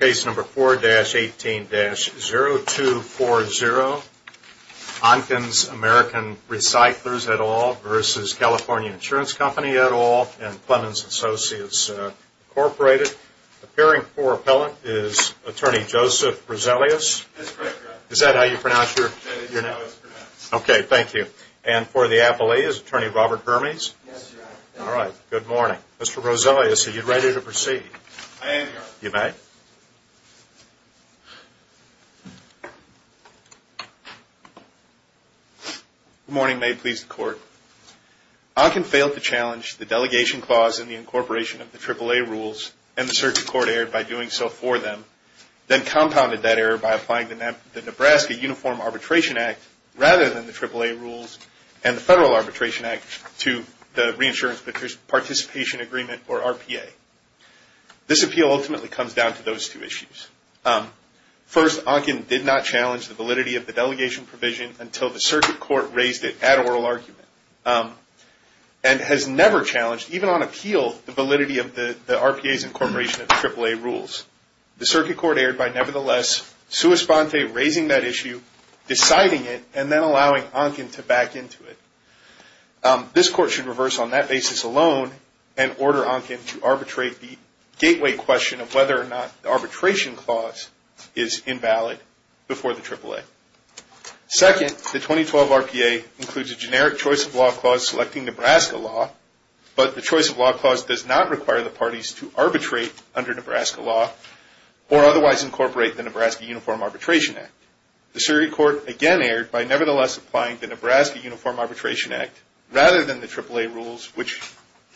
Case number 4-18-0240, Onken's American Recyclers et al. v. California Insurance Company et al. and Plemons Associates Incorporated. Appearing for appellant is Attorney Joseph Roselius. Yes, correct, Your Honor. Is that how you pronounce your name? Yes, that's how it's pronounced. Okay, thank you. And for the appellee is Attorney Robert Hermes. Yes, Your Honor. All right, good morning. Mr. Roselius, are you ready to proceed? I am, Your Honor. You may. Good morning, may it please the Court. Onken failed to challenge the delegation clause in the incorporation of the AAA rules and the circuit court erred by doing so for them, then compounded that error by applying the Nebraska Uniform Arbitration Act rather than the AAA rules and the Federal Arbitration Act to the Reinsurance Participation Agreement, or RPA. This appeal ultimately comes down to those two issues. First, Onken did not challenge the validity of the delegation provision until the circuit court raised it at oral argument and has never challenged, even on appeal, the validity of the RPA's incorporation of the AAA rules. The circuit court erred by, nevertheless, sui sponte, raising that issue, deciding it, and then allowing Onken to back into it. This Court should reverse on that basis alone and order Onken to arbitrate the gateway question of whether or not the arbitration clause is invalid before the AAA. Second, the 2012 RPA includes a generic choice of law clause selecting Nebraska law, but the choice of law clause does not require the parties to arbitrate under Nebraska law or otherwise incorporate the Nebraska Uniform Arbitration Act. The circuit court, again, erred by, nevertheless, applying the Nebraska Uniform Arbitration Act rather than the AAA rules, which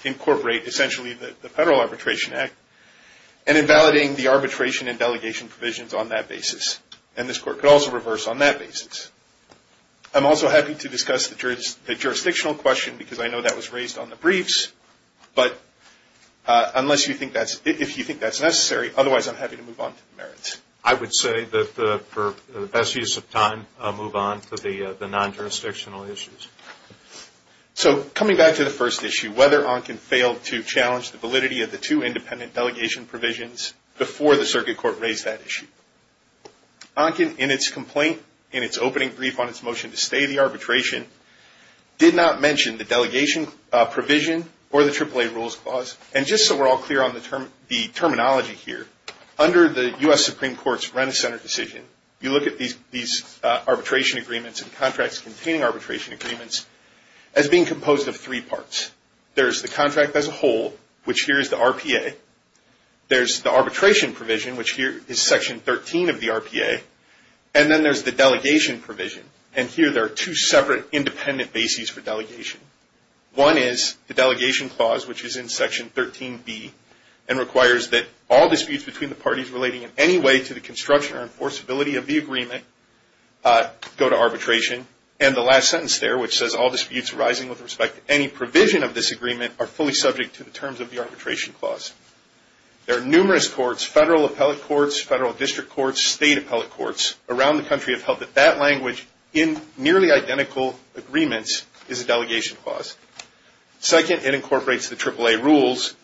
incorporate, essentially, the Federal Arbitration Act, and invalidating the arbitration and delegation provisions on that basis. And this Court could also reverse on that basis. I'm also happy to discuss the jurisdictional question because I know that was raised on the briefs, but unless you think that's, if you think that's necessary, otherwise I'm happy to move on to the merits. I would say that for the best use of time, I'll move on to the non-jurisdictional issues. So, coming back to the first issue, whether Onken failed to challenge the validity of the two independent delegation provisions before the circuit court raised that issue. Onken, in its complaint, in its opening brief on its motion to stay the arbitration, did not mention the delegation provision or the AAA rules clause. And just so we're all clear on the terminology here, under the U.S. Supreme Court's Rennes Center decision, you look at these arbitration agreements and contracts containing arbitration agreements as being composed of three parts. There's the contract as a whole, which here is the RPA. There's the arbitration provision, which here is Section 13 of the RPA. And then there's the delegation provision. And here there are two separate independent bases for delegation. One is the delegation clause, which is in Section 13B and requires that all disputes between the parties relating in any way to the construction or enforceability of the agreement go to arbitration. And the last sentence there, which says all disputes arising with respect to any provision of this agreement are fully subject to the terms of the arbitration clause. There are numerous courts, federal appellate courts, federal district courts, which in nearly identical agreements is a delegation clause. Second, it incorporates the AAA rules,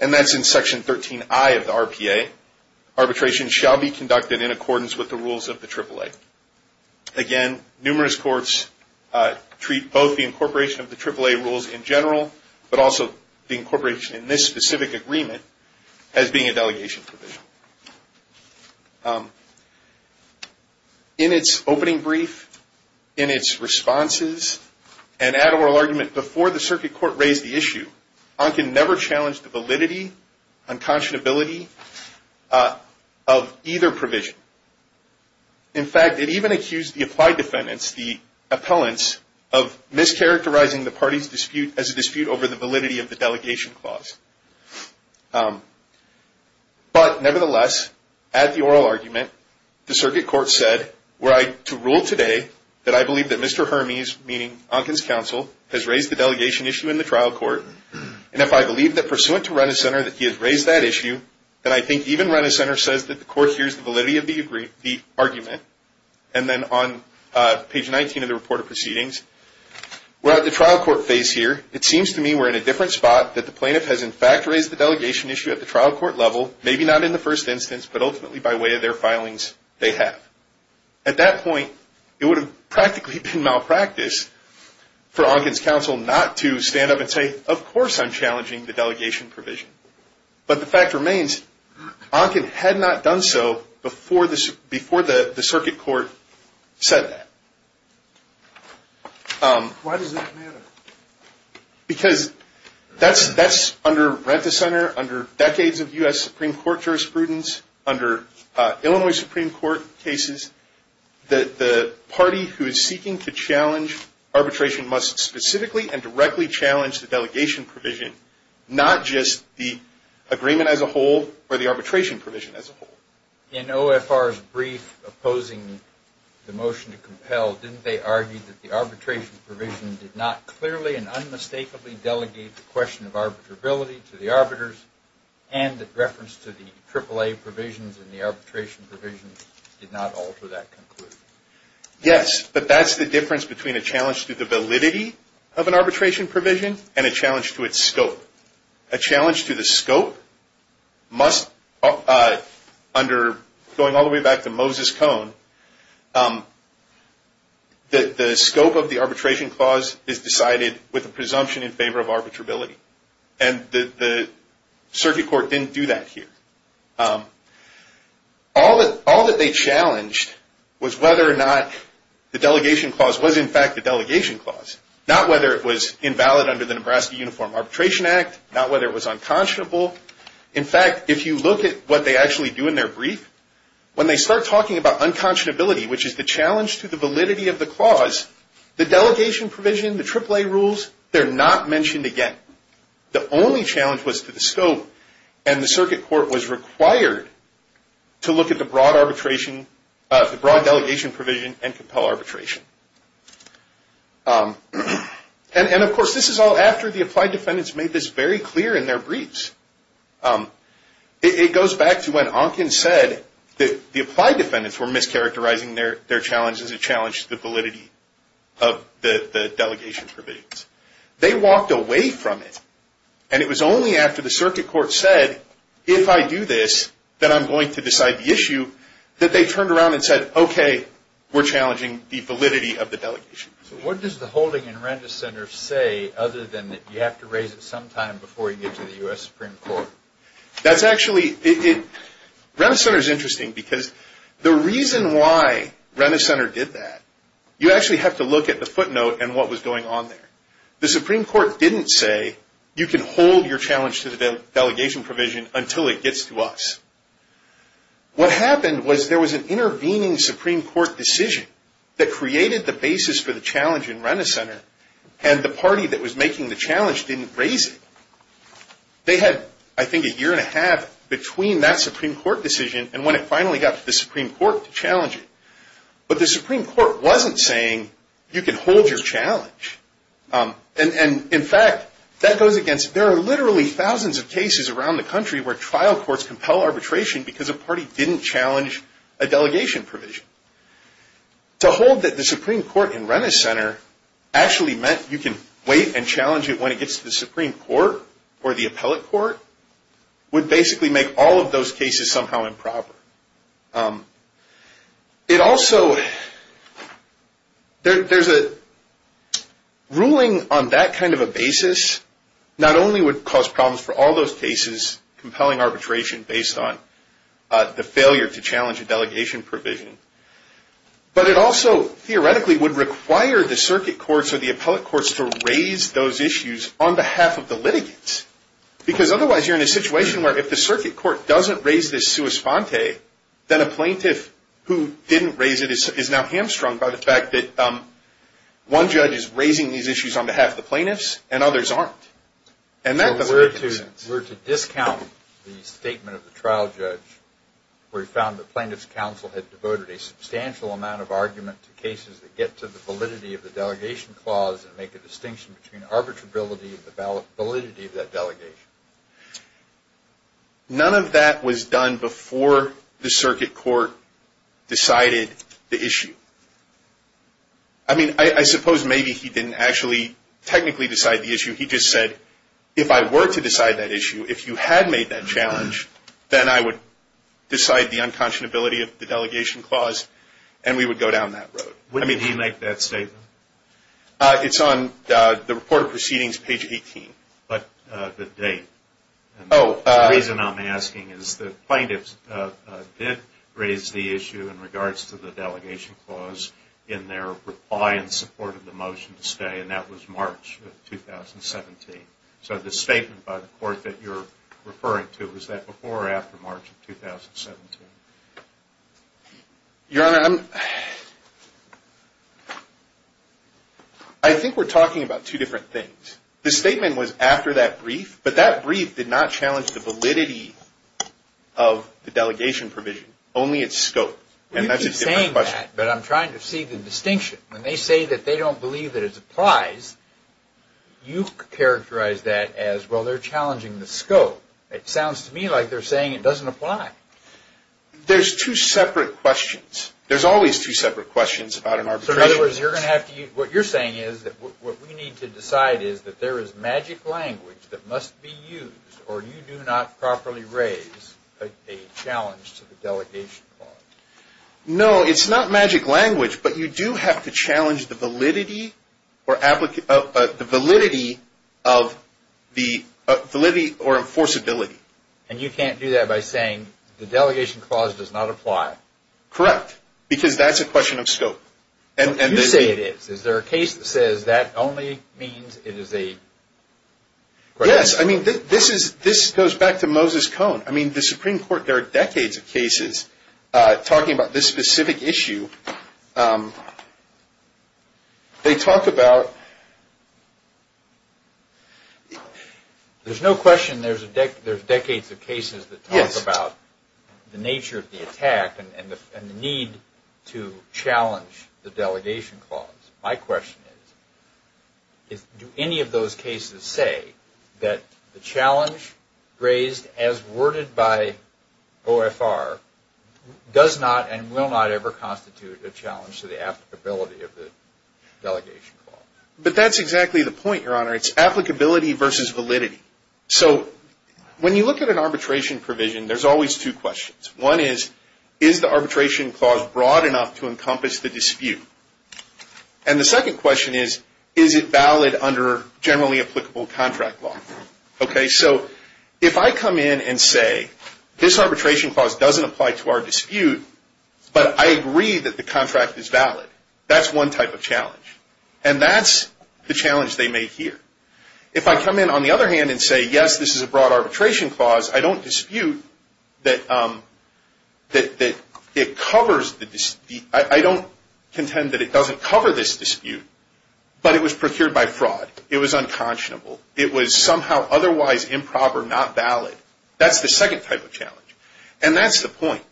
and that's in Section 13I of the RPA. Arbitration shall be conducted in accordance with the rules of the AAA. Again, numerous courts treat both the incorporation of the AAA rules in general, but also the incorporation in this specific agreement as being a delegation provision. In its opening brief, in its responses, and at oral argument before the circuit court raised the issue, Ankin never challenged the validity, unconscionability of either provision. In fact, it even accused the applied defendants, the appellants, of mischaracterizing the parties dispute as a dispute over the validity of the delegation clause. But nevertheless, at the oral argument, the circuit court said, were I to rule today that I believe that Mr. Hermes, meaning Ankin's counsel, has raised the delegation issue in the trial court, and if I believe that pursuant to Renner Center that he has raised that issue, then I think even Renner Center says that the court hears the validity of the argument. And then on page 19 of the report of proceedings, we're at the trial court phase here. It seems to me we're in a different spot, that the plaintiff has in fact raised the delegation issue at the trial court level, maybe not in the first instance, but ultimately by way of their filings, they have. At that point, it would have practically been malpractice for Ankin's counsel not to stand up and say, of course I'm challenging the delegation provision. But the fact remains, Ankin had not done so before the circuit court said that. Why does that matter? Because that's under Renner Center, under decades of U.S. Supreme Court jurisprudence, under Illinois Supreme Court cases, the party who is seeking to challenge arbitration must specifically and directly challenge the delegation provision, not just the agreement as a whole or the arbitration provision as a whole. In OFR's brief opposing the motion to compel, didn't they argue that the arbitration provision did not clearly and unmistakably delegate the question of arbitrability to the arbiters and that reference to the AAA provisions and the arbitration provisions did not alter that conclusion? Yes, but that's the difference between a challenge to the validity of an arbitration provision and a challenge to its scope. A challenge to the scope must, going all the way back to Moses Cone, that the scope of the arbitration clause is decided with a presumption in favor of arbitrability. And the circuit court didn't do that here. All that they challenged was whether or not the delegation clause was in fact a delegation clause, not whether it was invalid under the Nebraska Uniform Arbitration Act, not whether it was unconscionable. In fact, if you look at what they actually do in their brief, when they start talking about unconscionability, which is the challenge to the validity of the clause, the delegation provision, the AAA rules, they're not mentioned again. The only challenge was to the scope and the circuit court was required to look at the broad delegation provision and compel arbitration. And of course, this is all after the applied defendants made this very clear in their briefs. It goes back to when Onken said that the applied defendants were mischaracterizing their challenge as a challenge to the validity of the delegation provisions. They walked away from it and it was only after the circuit court said, if I do this, that I'm going to decide the issue, that they turned around and said, okay, we're challenging the validity of the delegation. So what does the holding in Rennes Center say other than that you have to raise it sometime before you get to the U.S. Supreme Court? That's actually, Rennes Center is interesting because the reason why Rennes Center did that, you actually have to look at the footnote and what was going on there. The Supreme Court didn't say, you can hold your challenge to the delegation provision until it gets to us. What happened was there was an intervening Supreme Court decision that created the basis for the challenge in Rennes Center and the party that was making the challenge didn't raise it. They had, I think, a year and a half between that Supreme Court decision and when it finally got to the Supreme Court to challenge it. But the Supreme Court wasn't saying, you can hold your challenge. And in fact, that goes against, there are literally thousands of cases around the country where trial courts compel arbitration because a party didn't challenge a delegation provision. To hold that the Supreme Court in Rennes Center actually meant you can wait and challenge it when it gets to the Supreme Court or the appellate court would basically make all of those cases somehow improper. It also, there's a ruling on that kind of a basis not only would cause problems for all those cases compelling arbitration based on the failure to challenge a delegation provision, but it also theoretically would require the circuit courts or the appellate courts to raise those issues on behalf of the litigants. Because otherwise you're in a situation where if the circuit court doesn't raise this sua sponte, then a plaintiff who didn't raise it is now hamstrung by the fact that one judge is raising these issues on behalf of the plaintiffs and others aren't. And that doesn't make any sense. We're to discount the statement of the trial judge where he found that plaintiff's counsel had devoted a substantial amount of argument to cases that get to the validity of the delegation clause and make a distinction between arbitrability and the validity of that delegation. None of that was done before the circuit court decided the issue. I mean, I suppose maybe he didn't actually technically decide the issue. He just said, if I were to decide that issue, if you had made that challenge, then I would decide the unconscionability of the delegation clause and we would go down that road. I mean. When did he make that statement? It's on the report of proceedings, page 18. But the date. Oh. The reason I'm asking is that plaintiffs did raise the issue in regards to the delegation clause in their reply in support of the motion to stay, and that was March of 2017. So the statement by the court that you're referring to, was that before or after March of 2017? Your Honor, I think we're talking about two different things. The statement was after that brief, but that brief did not challenge the validity of the delegation provision, only its scope. You keep saying that, but I'm trying to see the distinction. When they say that they don't believe that it applies, you characterize that as, well, they're challenging the scope. It sounds to me like they're saying it doesn't apply. There's two separate questions. There's always two separate questions about an arbitration. So in other words, what you're saying is that what we need to decide is that there is magic language that must be used, or you do not properly raise a challenge to the delegation clause. No, it's not magic language, but you do have to challenge the validity or enforceability. And you can't do that by saying the delegation clause does not apply. Correct. Because that's a question of scope. You say it is. Is there a case that says that only means it is a... Yes, I mean, this goes back to Moses Cone. I mean, the Supreme Court, there are decades of cases talking about this specific issue. They talk about... There's no question there's decades of cases that talk about the nature of the attack and the need to challenge the delegation clause. My question is, do any of those cases say that the challenge raised as worded by OFR does not and will not ever constitute a challenge to the applicability of the delegation clause? But that's exactly the point, Your Honor. It's applicability versus validity. So when you look at an arbitration provision, there's always two questions. One is, is the arbitration clause broad enough to encompass the dispute? And the second question is, is it valid under generally applicable contract law? Okay, so if I come in and say this arbitration clause doesn't apply to our dispute, but I agree that the contract is valid, that's one type of challenge. And that's the challenge they may hear. If I come in, on the other hand, and say, yes, this is a broad arbitration clause, I don't dispute that it covers the dispute. I don't contend that it doesn't cover this dispute. But it was procured by fraud. It was unconscionable. It was somehow otherwise improper, not valid. That's the second type of challenge. And that's the point.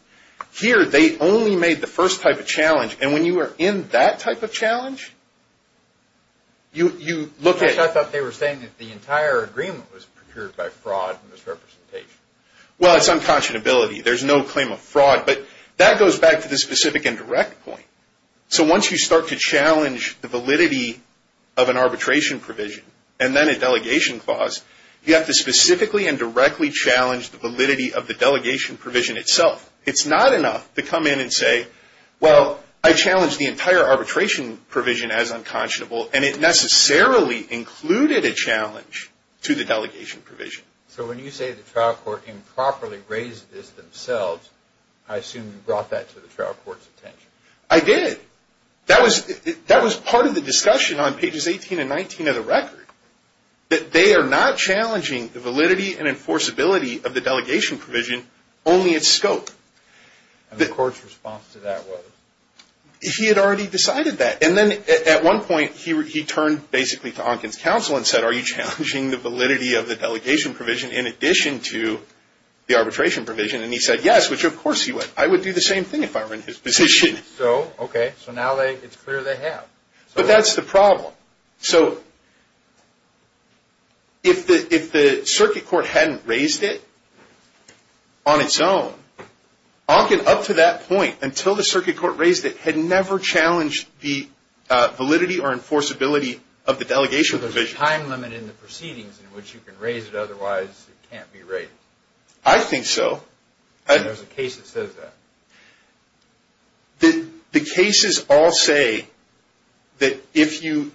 Here, they only made the first type of challenge. And when you are in that type of challenge, you look at it. So we're saying that the entire agreement was procured by fraud and misrepresentation. Well, it's unconscionability. There's no claim of fraud. But that goes back to the specific indirect point. So once you start to challenge the validity of an arbitration provision, and then a delegation clause, you have to specifically and directly challenge the validity of the delegation provision itself. It's not enough to come in and say, well, I challenge the entire arbitration provision as unconscionable. And it necessarily included a challenge to the delegation provision. So when you say the trial court improperly raised this themselves, I assume you brought that to the trial court's attention. I did. That was part of the discussion on pages 18 and 19 of the record. That they are not challenging the validity and enforceability of the delegation provision, only its scope. And the court's response to that was? He had already decided that. And then at one point, he turned basically to Onken's counsel and said, are you challenging the validity of the delegation provision in addition to the arbitration provision? And he said, yes, which of course he would. I would do the same thing if I were in his position. So, okay, so now it's clear they have. But that's the problem. So if the circuit court hadn't raised it on its own. Onken, up to that point, until the circuit court raised it, had never challenged the validity or enforceability of the delegation provision. So there's a time limit in the proceedings in which you can raise it, otherwise it can't be raised. I think so. There's a case that says that. The cases all say that if you,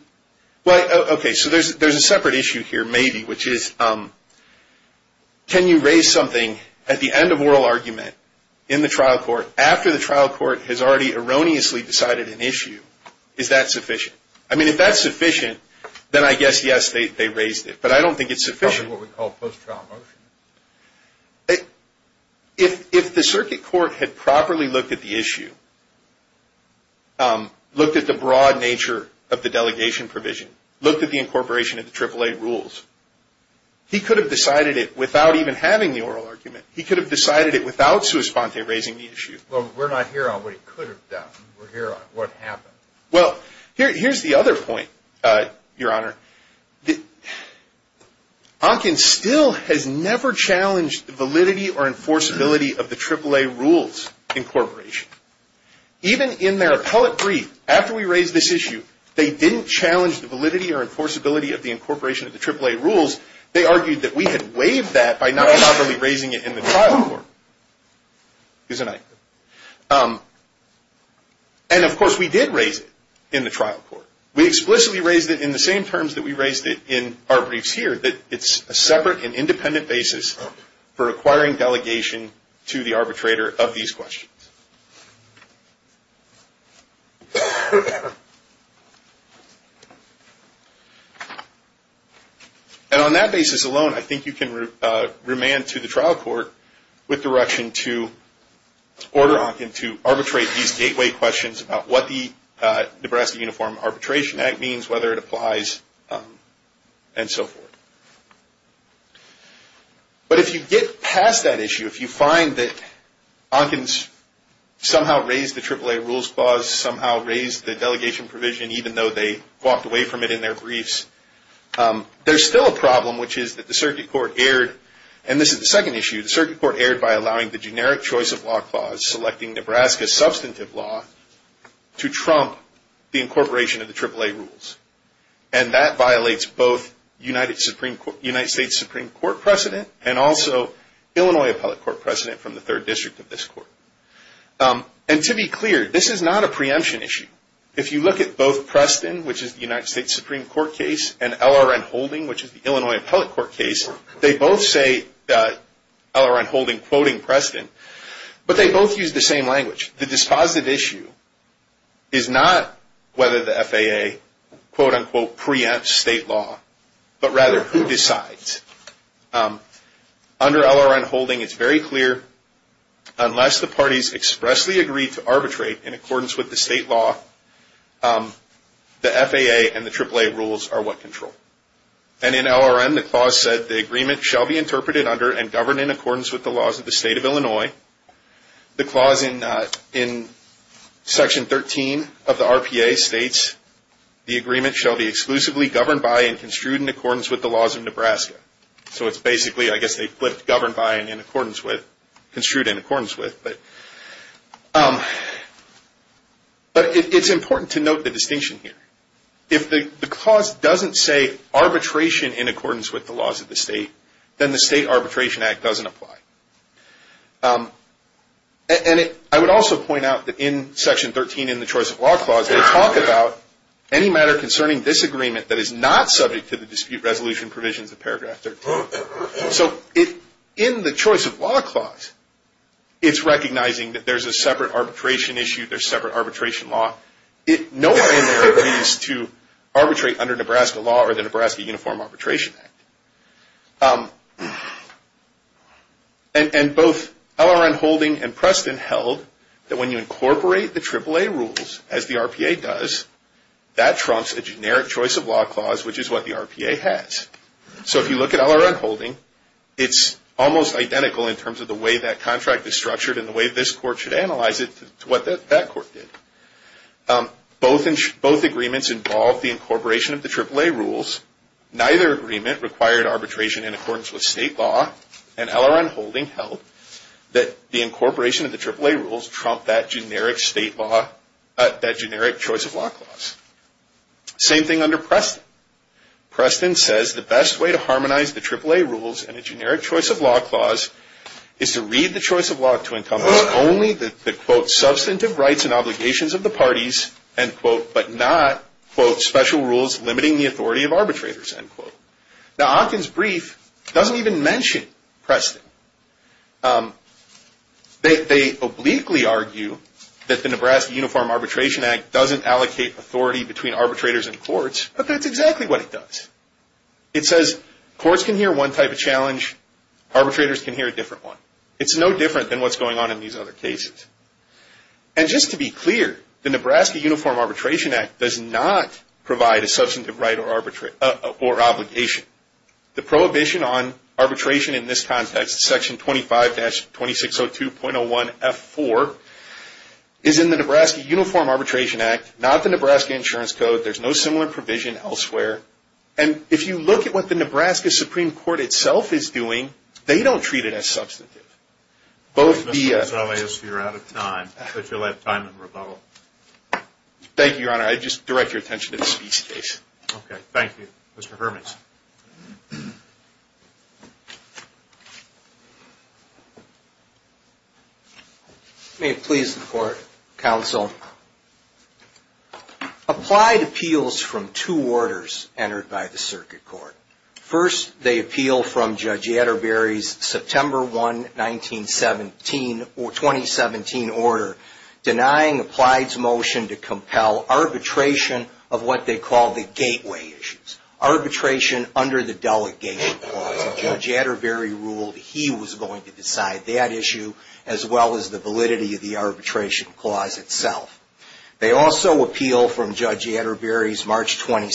well, okay, so there's a separate issue here, maybe, which is can you raise something at the end of oral argument in the trial court after the trial court has already erroneously decided an issue, is that sufficient? I mean, if that's sufficient, then I guess, yes, they raised it. But I don't think it's sufficient. Probably what we call post-trial motion. If the circuit court had properly looked at the issue, looked at the broad nature of the delegation provision, looked at the incorporation of the AAA rules, he could have decided it without even having the oral argument. He could have decided it without sui sponte, raising the issue. Well, we're not here on what he could have done. We're here on what happened. Well, here's the other point, your honor. Onkin still has never challenged the validity or enforceability of the AAA rules incorporation. Even in their appellate brief, after we raised this issue, they didn't challenge the validity or enforceability of the incorporation of the AAA rules. They argued that we had waived that by not properly raising it in the trial court. Isn't that right? And of course, we did raise it in the trial court. We explicitly raised it in the same terms that we raised it in our briefs here, that it's a separate and independent basis for acquiring delegation to the arbitrator of these questions. And on that basis alone, I think you can remand to the trial court with direction to order Onkin to arbitrate these gateway questions about what the Nebraska Uniform Arbitration Act means, whether it applies, and so forth. But if you get past that issue, if you find that Onkin's somehow raised the AAA rules clause, somehow raised the delegation provision even though they walked away from it in their briefs, there's still a problem, which is that the circuit court erred. And this is the second issue. The circuit court erred by allowing the generic choice of lock clause, selecting Nebraska's substantive law to trump the incorporation of the AAA rules. And that violates both United States Supreme Court precedent and also Illinois Appellate Court precedent from the third district of this court. And to be clear, this is not a preemption issue. If you look at both Preston, which is the United States Supreme Court case, and LRN Holding, which is the Illinois Appellate Court case, they both say, LRN Holding quoting Preston, but they both use the same language. The dispositive issue is not whether the FAA quote unquote preempts state law, but rather who decides. Under LRN Holding, it's very clear, unless the parties expressly agree to arbitrate in accordance with the state law, the FAA and the AAA rules are what control. And in LRN, the clause said, the agreement shall be interpreted under and govern in accordance with the laws of the state of Illinois. The clause in section 13 of the RPA states, the agreement shall be exclusively governed by and construed in accordance with the laws of Nebraska. So it's basically, I guess they flipped governed by and in accordance with, construed in accordance with. But it's important to note the distinction here. If the clause doesn't say arbitration in accordance with the laws of the state, then the State Arbitration Act doesn't apply. And I would also point out that in section 13 in the choice of law clause, they talk about any matter concerning this agreement that is not subject to the dispute resolution provisions of paragraph 13. So in the choice of law clause, it's recognizing that there's a separate arbitration issue, there's separate arbitration law. No one in there agrees to arbitrate under Nebraska law or the Nebraska Uniform Arbitration Act. And both LRN Holding and Preston held that when you incorporate the AAA rules, as the RPA does, that trumps a generic choice of law clause, which is what the RPA has. So if you look at LRN Holding, it's almost identical in terms of the way that contract is structured and the way this court should analyze it to what that court did. Both agreements involved the incorporation of the AAA rules. Neither agreement required arbitration in accordance with state law. And LRN Holding held that the incorporation of the AAA rules trumped that generic state law, that generic choice of law clause. Same thing under Preston. Preston says the best way to harmonize the AAA rules and the generic choice of law clause is to read the choice of law to encompass only the, quote, substantive rights and obligations of the parties, end quote, but not, quote, special rules limiting the authority of arbitrators, end quote. Now, Ocken's brief doesn't even mention Preston. They obliquely argue that the Nebraska Uniform Arbitration Act doesn't allocate authority between arbitrators and courts, but that's exactly what it does. It says courts can hear one type of challenge, arbitrators can hear a different one. It's no different than what's going on in these other cases. And just to be clear, the Nebraska Uniform Arbitration Act does not provide a substantive right or obligation. The prohibition on arbitration in this context, section 25-2602.01F4, is in the Nebraska Uniform Arbitration Act, not the Nebraska Insurance Code. There's no similar provision elsewhere. And if you look at what the Nebraska Supreme Court itself is doing, they don't treat it as substantive. Both the- Mr. Gonzales, you're out of time, but you'll have time in rebuttal. Thank you, Your Honor. I just direct your attention to the Speech case. Okay, thank you. Mr. Hermans. May it please the court, counsel. Applied appeals from two orders entered by the circuit court. First, they appeal from Judge Atterbury's September 1, 1917, or 2017 order, denying Applied's motion to compel arbitration of what they call the gateway issues. Arbitration under the delegation clause. And Judge Atterbury ruled he was going to decide that issue, as well as the validity of the arbitration clause itself. They also appeal from Judge Atterbury's March 22,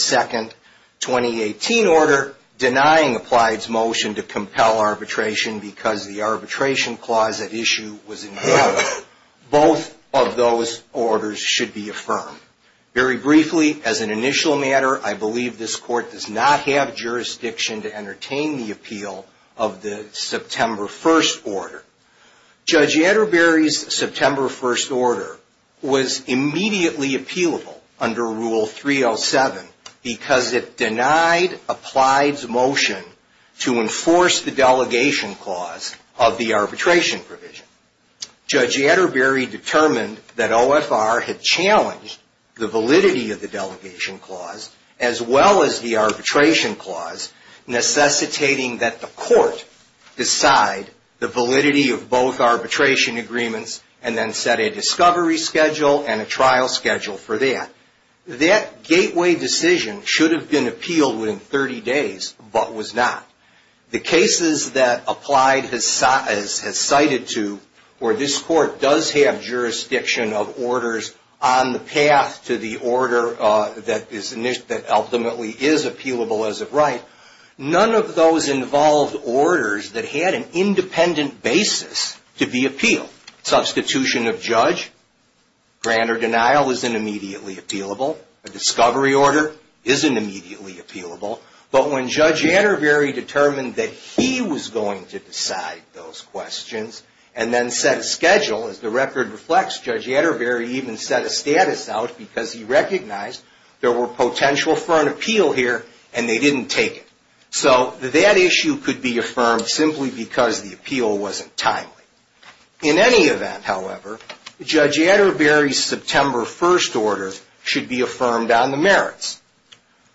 2018 order, denying Applied's motion to compel arbitration because the arbitration clause at issue was invalid. Both of those orders should be affirmed. Very briefly, as an initial matter, I believe this court does not have jurisdiction to entertain the appeal of the September 1 order. Judge Atterbury's September 1 order was immediately appealable under Rule 307, because it denied Applied's motion to enforce the delegation clause of the arbitration provision. Judge Atterbury determined that OFR had challenged the validity of the delegation clause, as well as the arbitration clause, necessitating that the court decide the validity of both arbitration agreements, and then set a discovery schedule and a trial schedule for that. That gateway decision should have been appealed within 30 days, but was not. The cases that Applied has cited to, where this court does have jurisdiction of orders on the path to the order that ultimately is appealable as of right, none of those involved orders that had an independent basis to be appealed. Substitution of judge, grant or denial isn't immediately appealable. A discovery order isn't immediately appealable. But when Judge Atterbury determined that he was going to decide those questions, and then set a schedule, as the record reflects, Judge Atterbury even set a status out because he recognized there were potential for an appeal here, and they didn't take it. So that issue could be affirmed simply because the appeal wasn't timely. In any event, however, Judge Atterbury's September 1 order should be affirmed on the merits.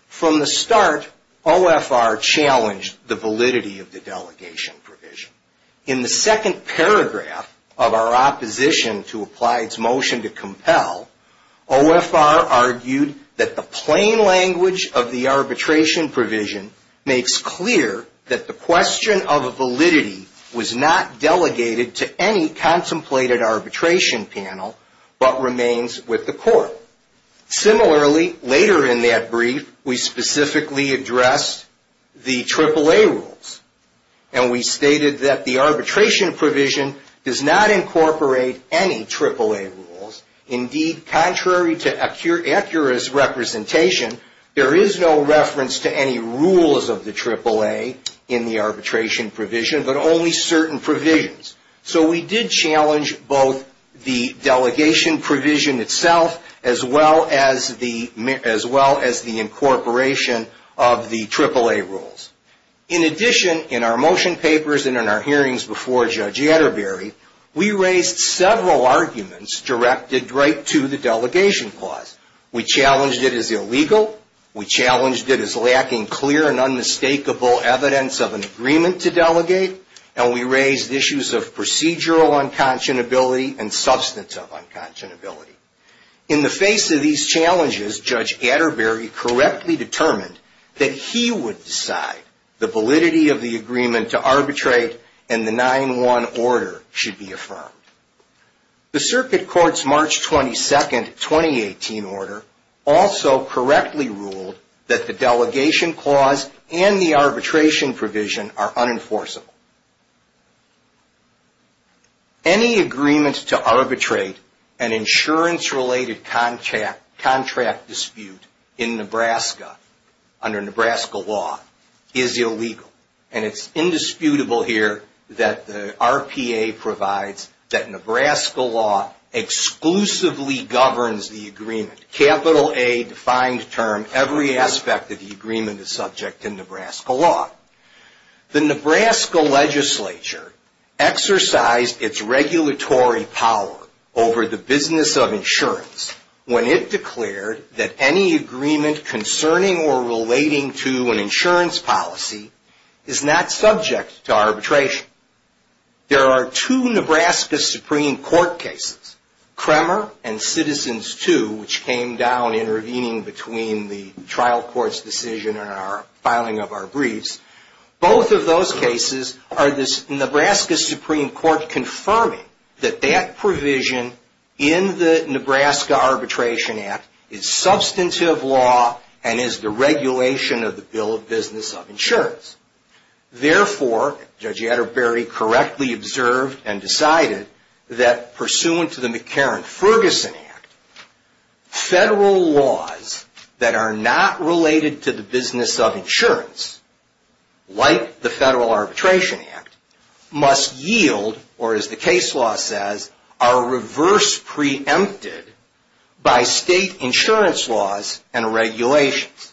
From the start, OFR challenged the validity of the delegation provision. In the second paragraph of our opposition to Applied's motion to compel, OFR argued that the plain language of the arbitration provision makes clear that the question of validity was not delegated to any contemplated arbitration panel, but remains with the court. Similarly, later in that brief, we specifically addressed the AAA rules. And we stated that the arbitration provision does not incorporate any AAA rules. Indeed, contrary to accurate representation, there is no reference to any rules of the AAA in the arbitration provision, but only certain provisions. So we did challenge both the delegation provision itself, as well as the incorporation of the AAA rules. In addition, in our motion papers and in our hearings before Judge Atterbury, we raised several arguments directed right to the delegation clause. We challenged it as illegal. We challenged it as lacking clear and unmistakable evidence of an agreement to delegate. And we raised issues of procedural unconscionability and substantive unconscionability. In the face of these challenges, Judge Atterbury correctly determined that he would decide the validity of the agreement to arbitrate and the 9-1 order should be affirmed. The circuit court's March 22nd, 2018 order also correctly ruled that the delegation clause and the arbitration provision are unenforceable. Any agreement to arbitrate an insurance-related contract dispute in Nebraska, under Nebraska law, is illegal. And it's indisputable here that the RPA provides that Nebraska law exclusively governs the agreement, capital A, defined term, every aspect of the agreement is subject to Nebraska law. The Nebraska legislature exercised its regulatory power over the business of insurance when it declared that any agreement concerning or relating to an insurance policy is not subject to arbitration. There are two Nebraska Supreme Court cases, Kremer and Citizens 2, which came down intervening between the trial court's decision and filing of our briefs. Both of those cases are this Nebraska Supreme Court confirming that that provision in the Nebraska Arbitration Act is substantive law and is the regulation of the Bill of Business of Insurance. Therefore, Judge Atterbury correctly observed and decided that pursuant to the McCarran-Ferguson Act, federal laws that are not related to the business of insurance, like the Federal Arbitration Act, must yield, or as the case law says, are reverse preempted by state insurance laws and regulations.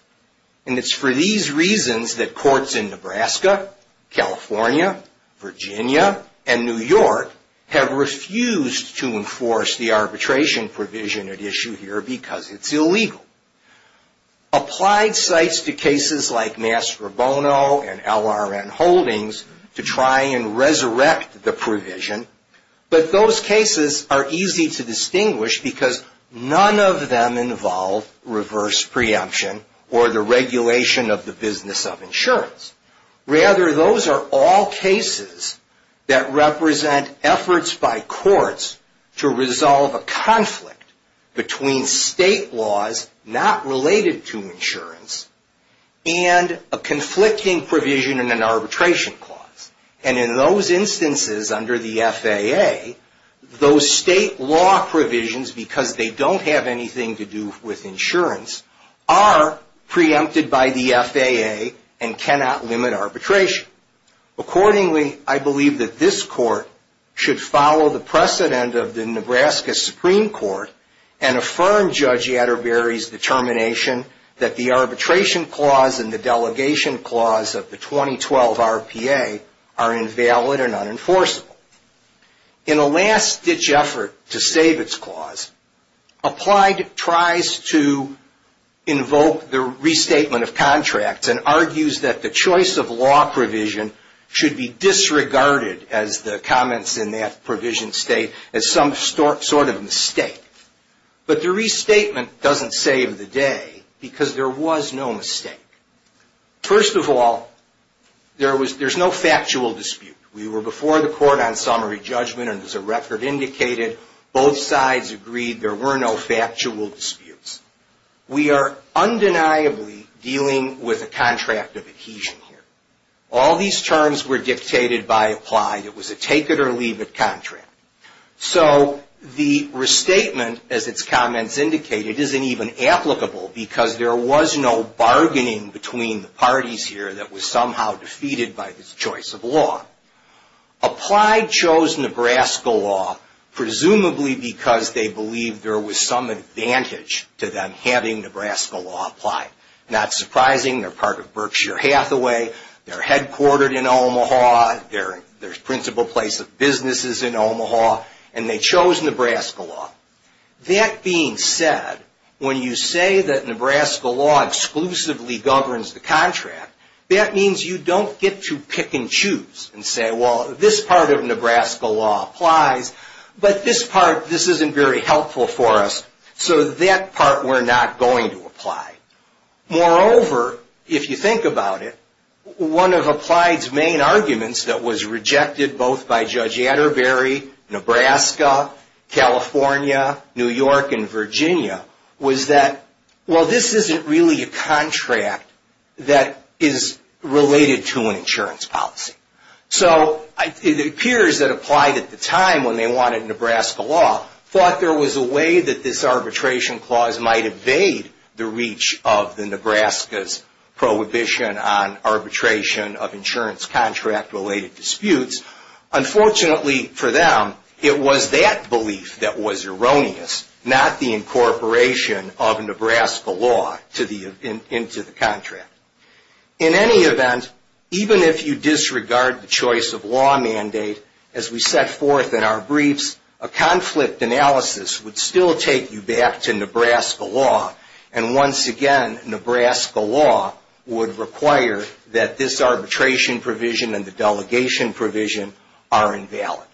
And it's for these reasons that courts in Nebraska, California, Virginia, and New York have refused to enforce the arbitration provision at issue here because it's illegal. Applied sites to cases like Mass Robono and LRN Holdings to try and resurrect the provision. But those cases are easy to distinguish because none of them involve Rather, those are all cases that represent efforts by courts to resolve a conflict between state laws not related to insurance and a conflicting provision in an arbitration clause. And in those instances under the FAA, those state law provisions, because they don't have anything to do with insurance, are preempted by the FAA and cannot limit arbitration. Accordingly, I believe that this court should follow the precedent of the Nebraska Supreme Court and affirm Judge Atterbury's determination that the arbitration clause and the delegation clause of the 2012 RPA are invalid and unenforceable. In a last-ditch effort to save its clause, Applied tries to invoke the restatement of contracts and argues that the choice of law provision should be disregarded, as the comments in that provision state, as some sort of mistake. But the restatement doesn't save the day because there was no mistake. First of all, there's no factual dispute. We were before the court on summary judgment, and as the record indicated, both sides agreed there were no factual disputes. We are undeniably dealing with a contract of adhesion here. All these terms were dictated by Applied. It was a take-it-or-leave-it contract. So the restatement, as its comments indicate, it isn't even applicable because there was no bargaining between the parties here that was somehow defeated by this choice of law. Applied chose Nebraska law presumably because they believed there was some advantage to them having Nebraska law applied. Not surprising, they're part of Berkshire Hathaway, they're headquartered in Omaha, they're the principal place of businesses in Omaha, and they chose Nebraska law. That being said, when you say that Nebraska law exclusively governs the contract, that means you don't get to pick and choose and say, well, this part of Nebraska law applies, but this part, this isn't very helpful for us, so that part we're not going to apply. Moreover, if you think about it, one of Applied's main arguments that was rejected both by Judge Atterbury, Nebraska, California, New York, and California, that is related to an insurance policy. So it appears that Applied at the time, when they wanted Nebraska law, thought there was a way that this arbitration clause might evade the reach of the Nebraska's prohibition on arbitration of insurance contract-related disputes. Unfortunately for them, it was that belief that was erroneous, not the In any event, even if you disregard the choice of law mandate, as we set forth in our briefs, a conflict analysis would still take you back to Nebraska law, and once again, Nebraska law would require that this arbitration provision and the delegation provision are invalid.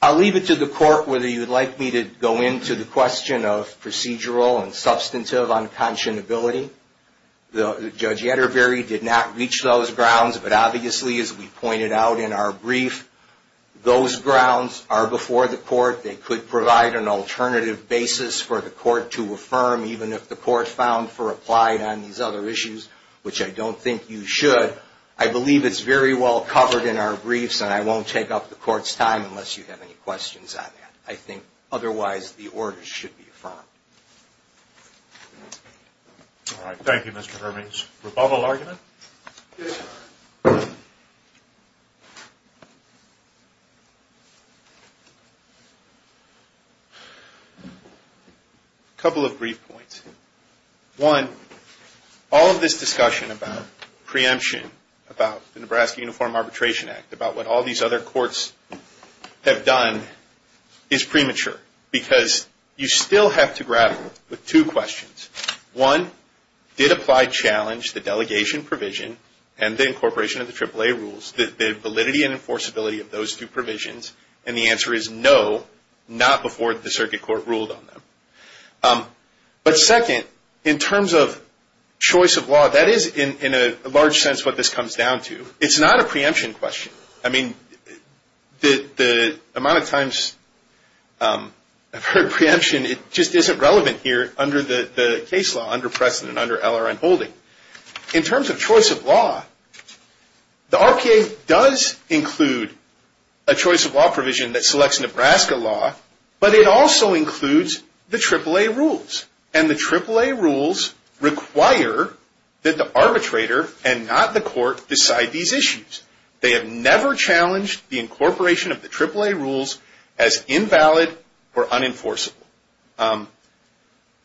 I'll leave it to the court whether you'd like me to go into the question of Judge Atterbury did not reach those grounds, but obviously, as we pointed out in our brief, those grounds are before the court. They could provide an alternative basis for the court to affirm, even if the court found for Applied on these other issues, which I don't think you should. I believe it's very well covered in our briefs, and I won't take up the court's time unless you have any questions on that. I think otherwise the order should be affirmed. Thank you, Mr. Hermans. Rebuttal argument? A couple of brief points. One, all of this discussion about preemption, about the Nebraska Uniform Arbitration Act, about what all these other courts have done, is premature because you still have to grapple with two questions. One, did Applied challenge the delegation provision and the incorporation of the AAA rules, the validity and enforceability of those two provisions? And the answer is no, not before the circuit court ruled on them. But second, in terms of choice of law, that is in a large sense what this comes down to. It's not a preemption question. I mean, the amount of times I've heard preemption, it just isn't relevant here under the case law, under precedent, under LRN holding. In terms of choice of law, the RPA does include a choice of law provision that selects Nebraska law, but it also includes the AAA rules. And the AAA rules require that the arbitrator and not the court decide these issues. They have never challenged the incorporation of the AAA rules as invalid or unenforceable.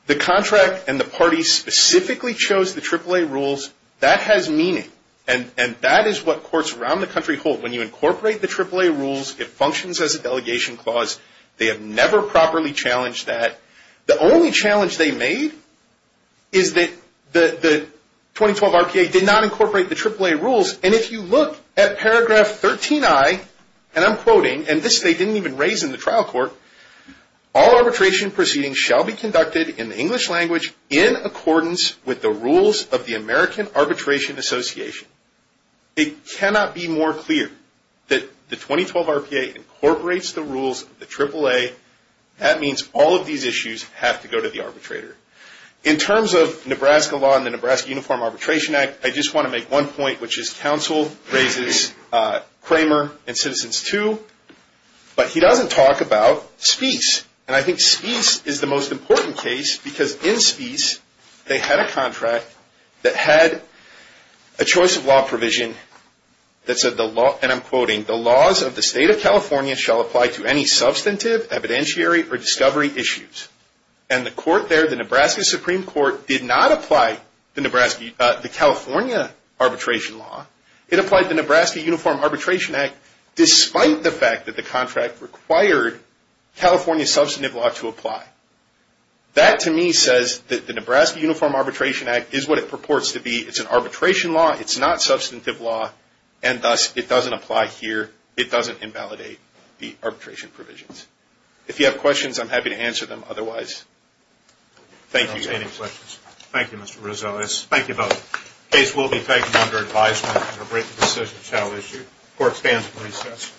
The contract and the parties specifically chose the AAA rules. That has meaning. And that is what courts around the country hold. When you incorporate the AAA rules, it functions as a delegation clause. They have never properly challenged that. The only challenge they made is that the 2012 RPA did not incorporate the AAA rules. And if you look at paragraph 13i, and I'm quoting, and this they didn't even raise in the trial court, all arbitration proceedings shall be conducted in the English language in accordance with the rules of the American Arbitration Association. It cannot be more clear that the 2012 RPA incorporates the rules of the AAA. That means all of these issues have to go to the arbitrator. In terms of Nebraska law and the Nebraska Uniform Arbitration Act, I just want to make one point, which is counsel raises Cramer and Citizens II. But he doesn't talk about Speece. And I think Speece is the most important case because in Speece, they had a contract that had a choice of law provision that said the law, and I'm quoting, the laws of the state of California shall apply to any substantive, evidentiary, or discovery issues. And the court there, the Nebraska Supreme Court, did not apply the California arbitration law. It applied the Nebraska Uniform Arbitration Act despite the fact that the contract required California substantive law to apply. That, to me, says that the Nebraska Uniform Arbitration Act is what it purports to be. It's an arbitration law. It's not substantive law. And thus, it doesn't apply here. It doesn't invalidate the arbitration provisions. If you have questions, I'm happy to answer them. Otherwise, thank you. Any questions? Thank you, Mr. Rosales. Thank you both. Case will be taken under advisement, and a breaking decision shall issue. Court stands at recess.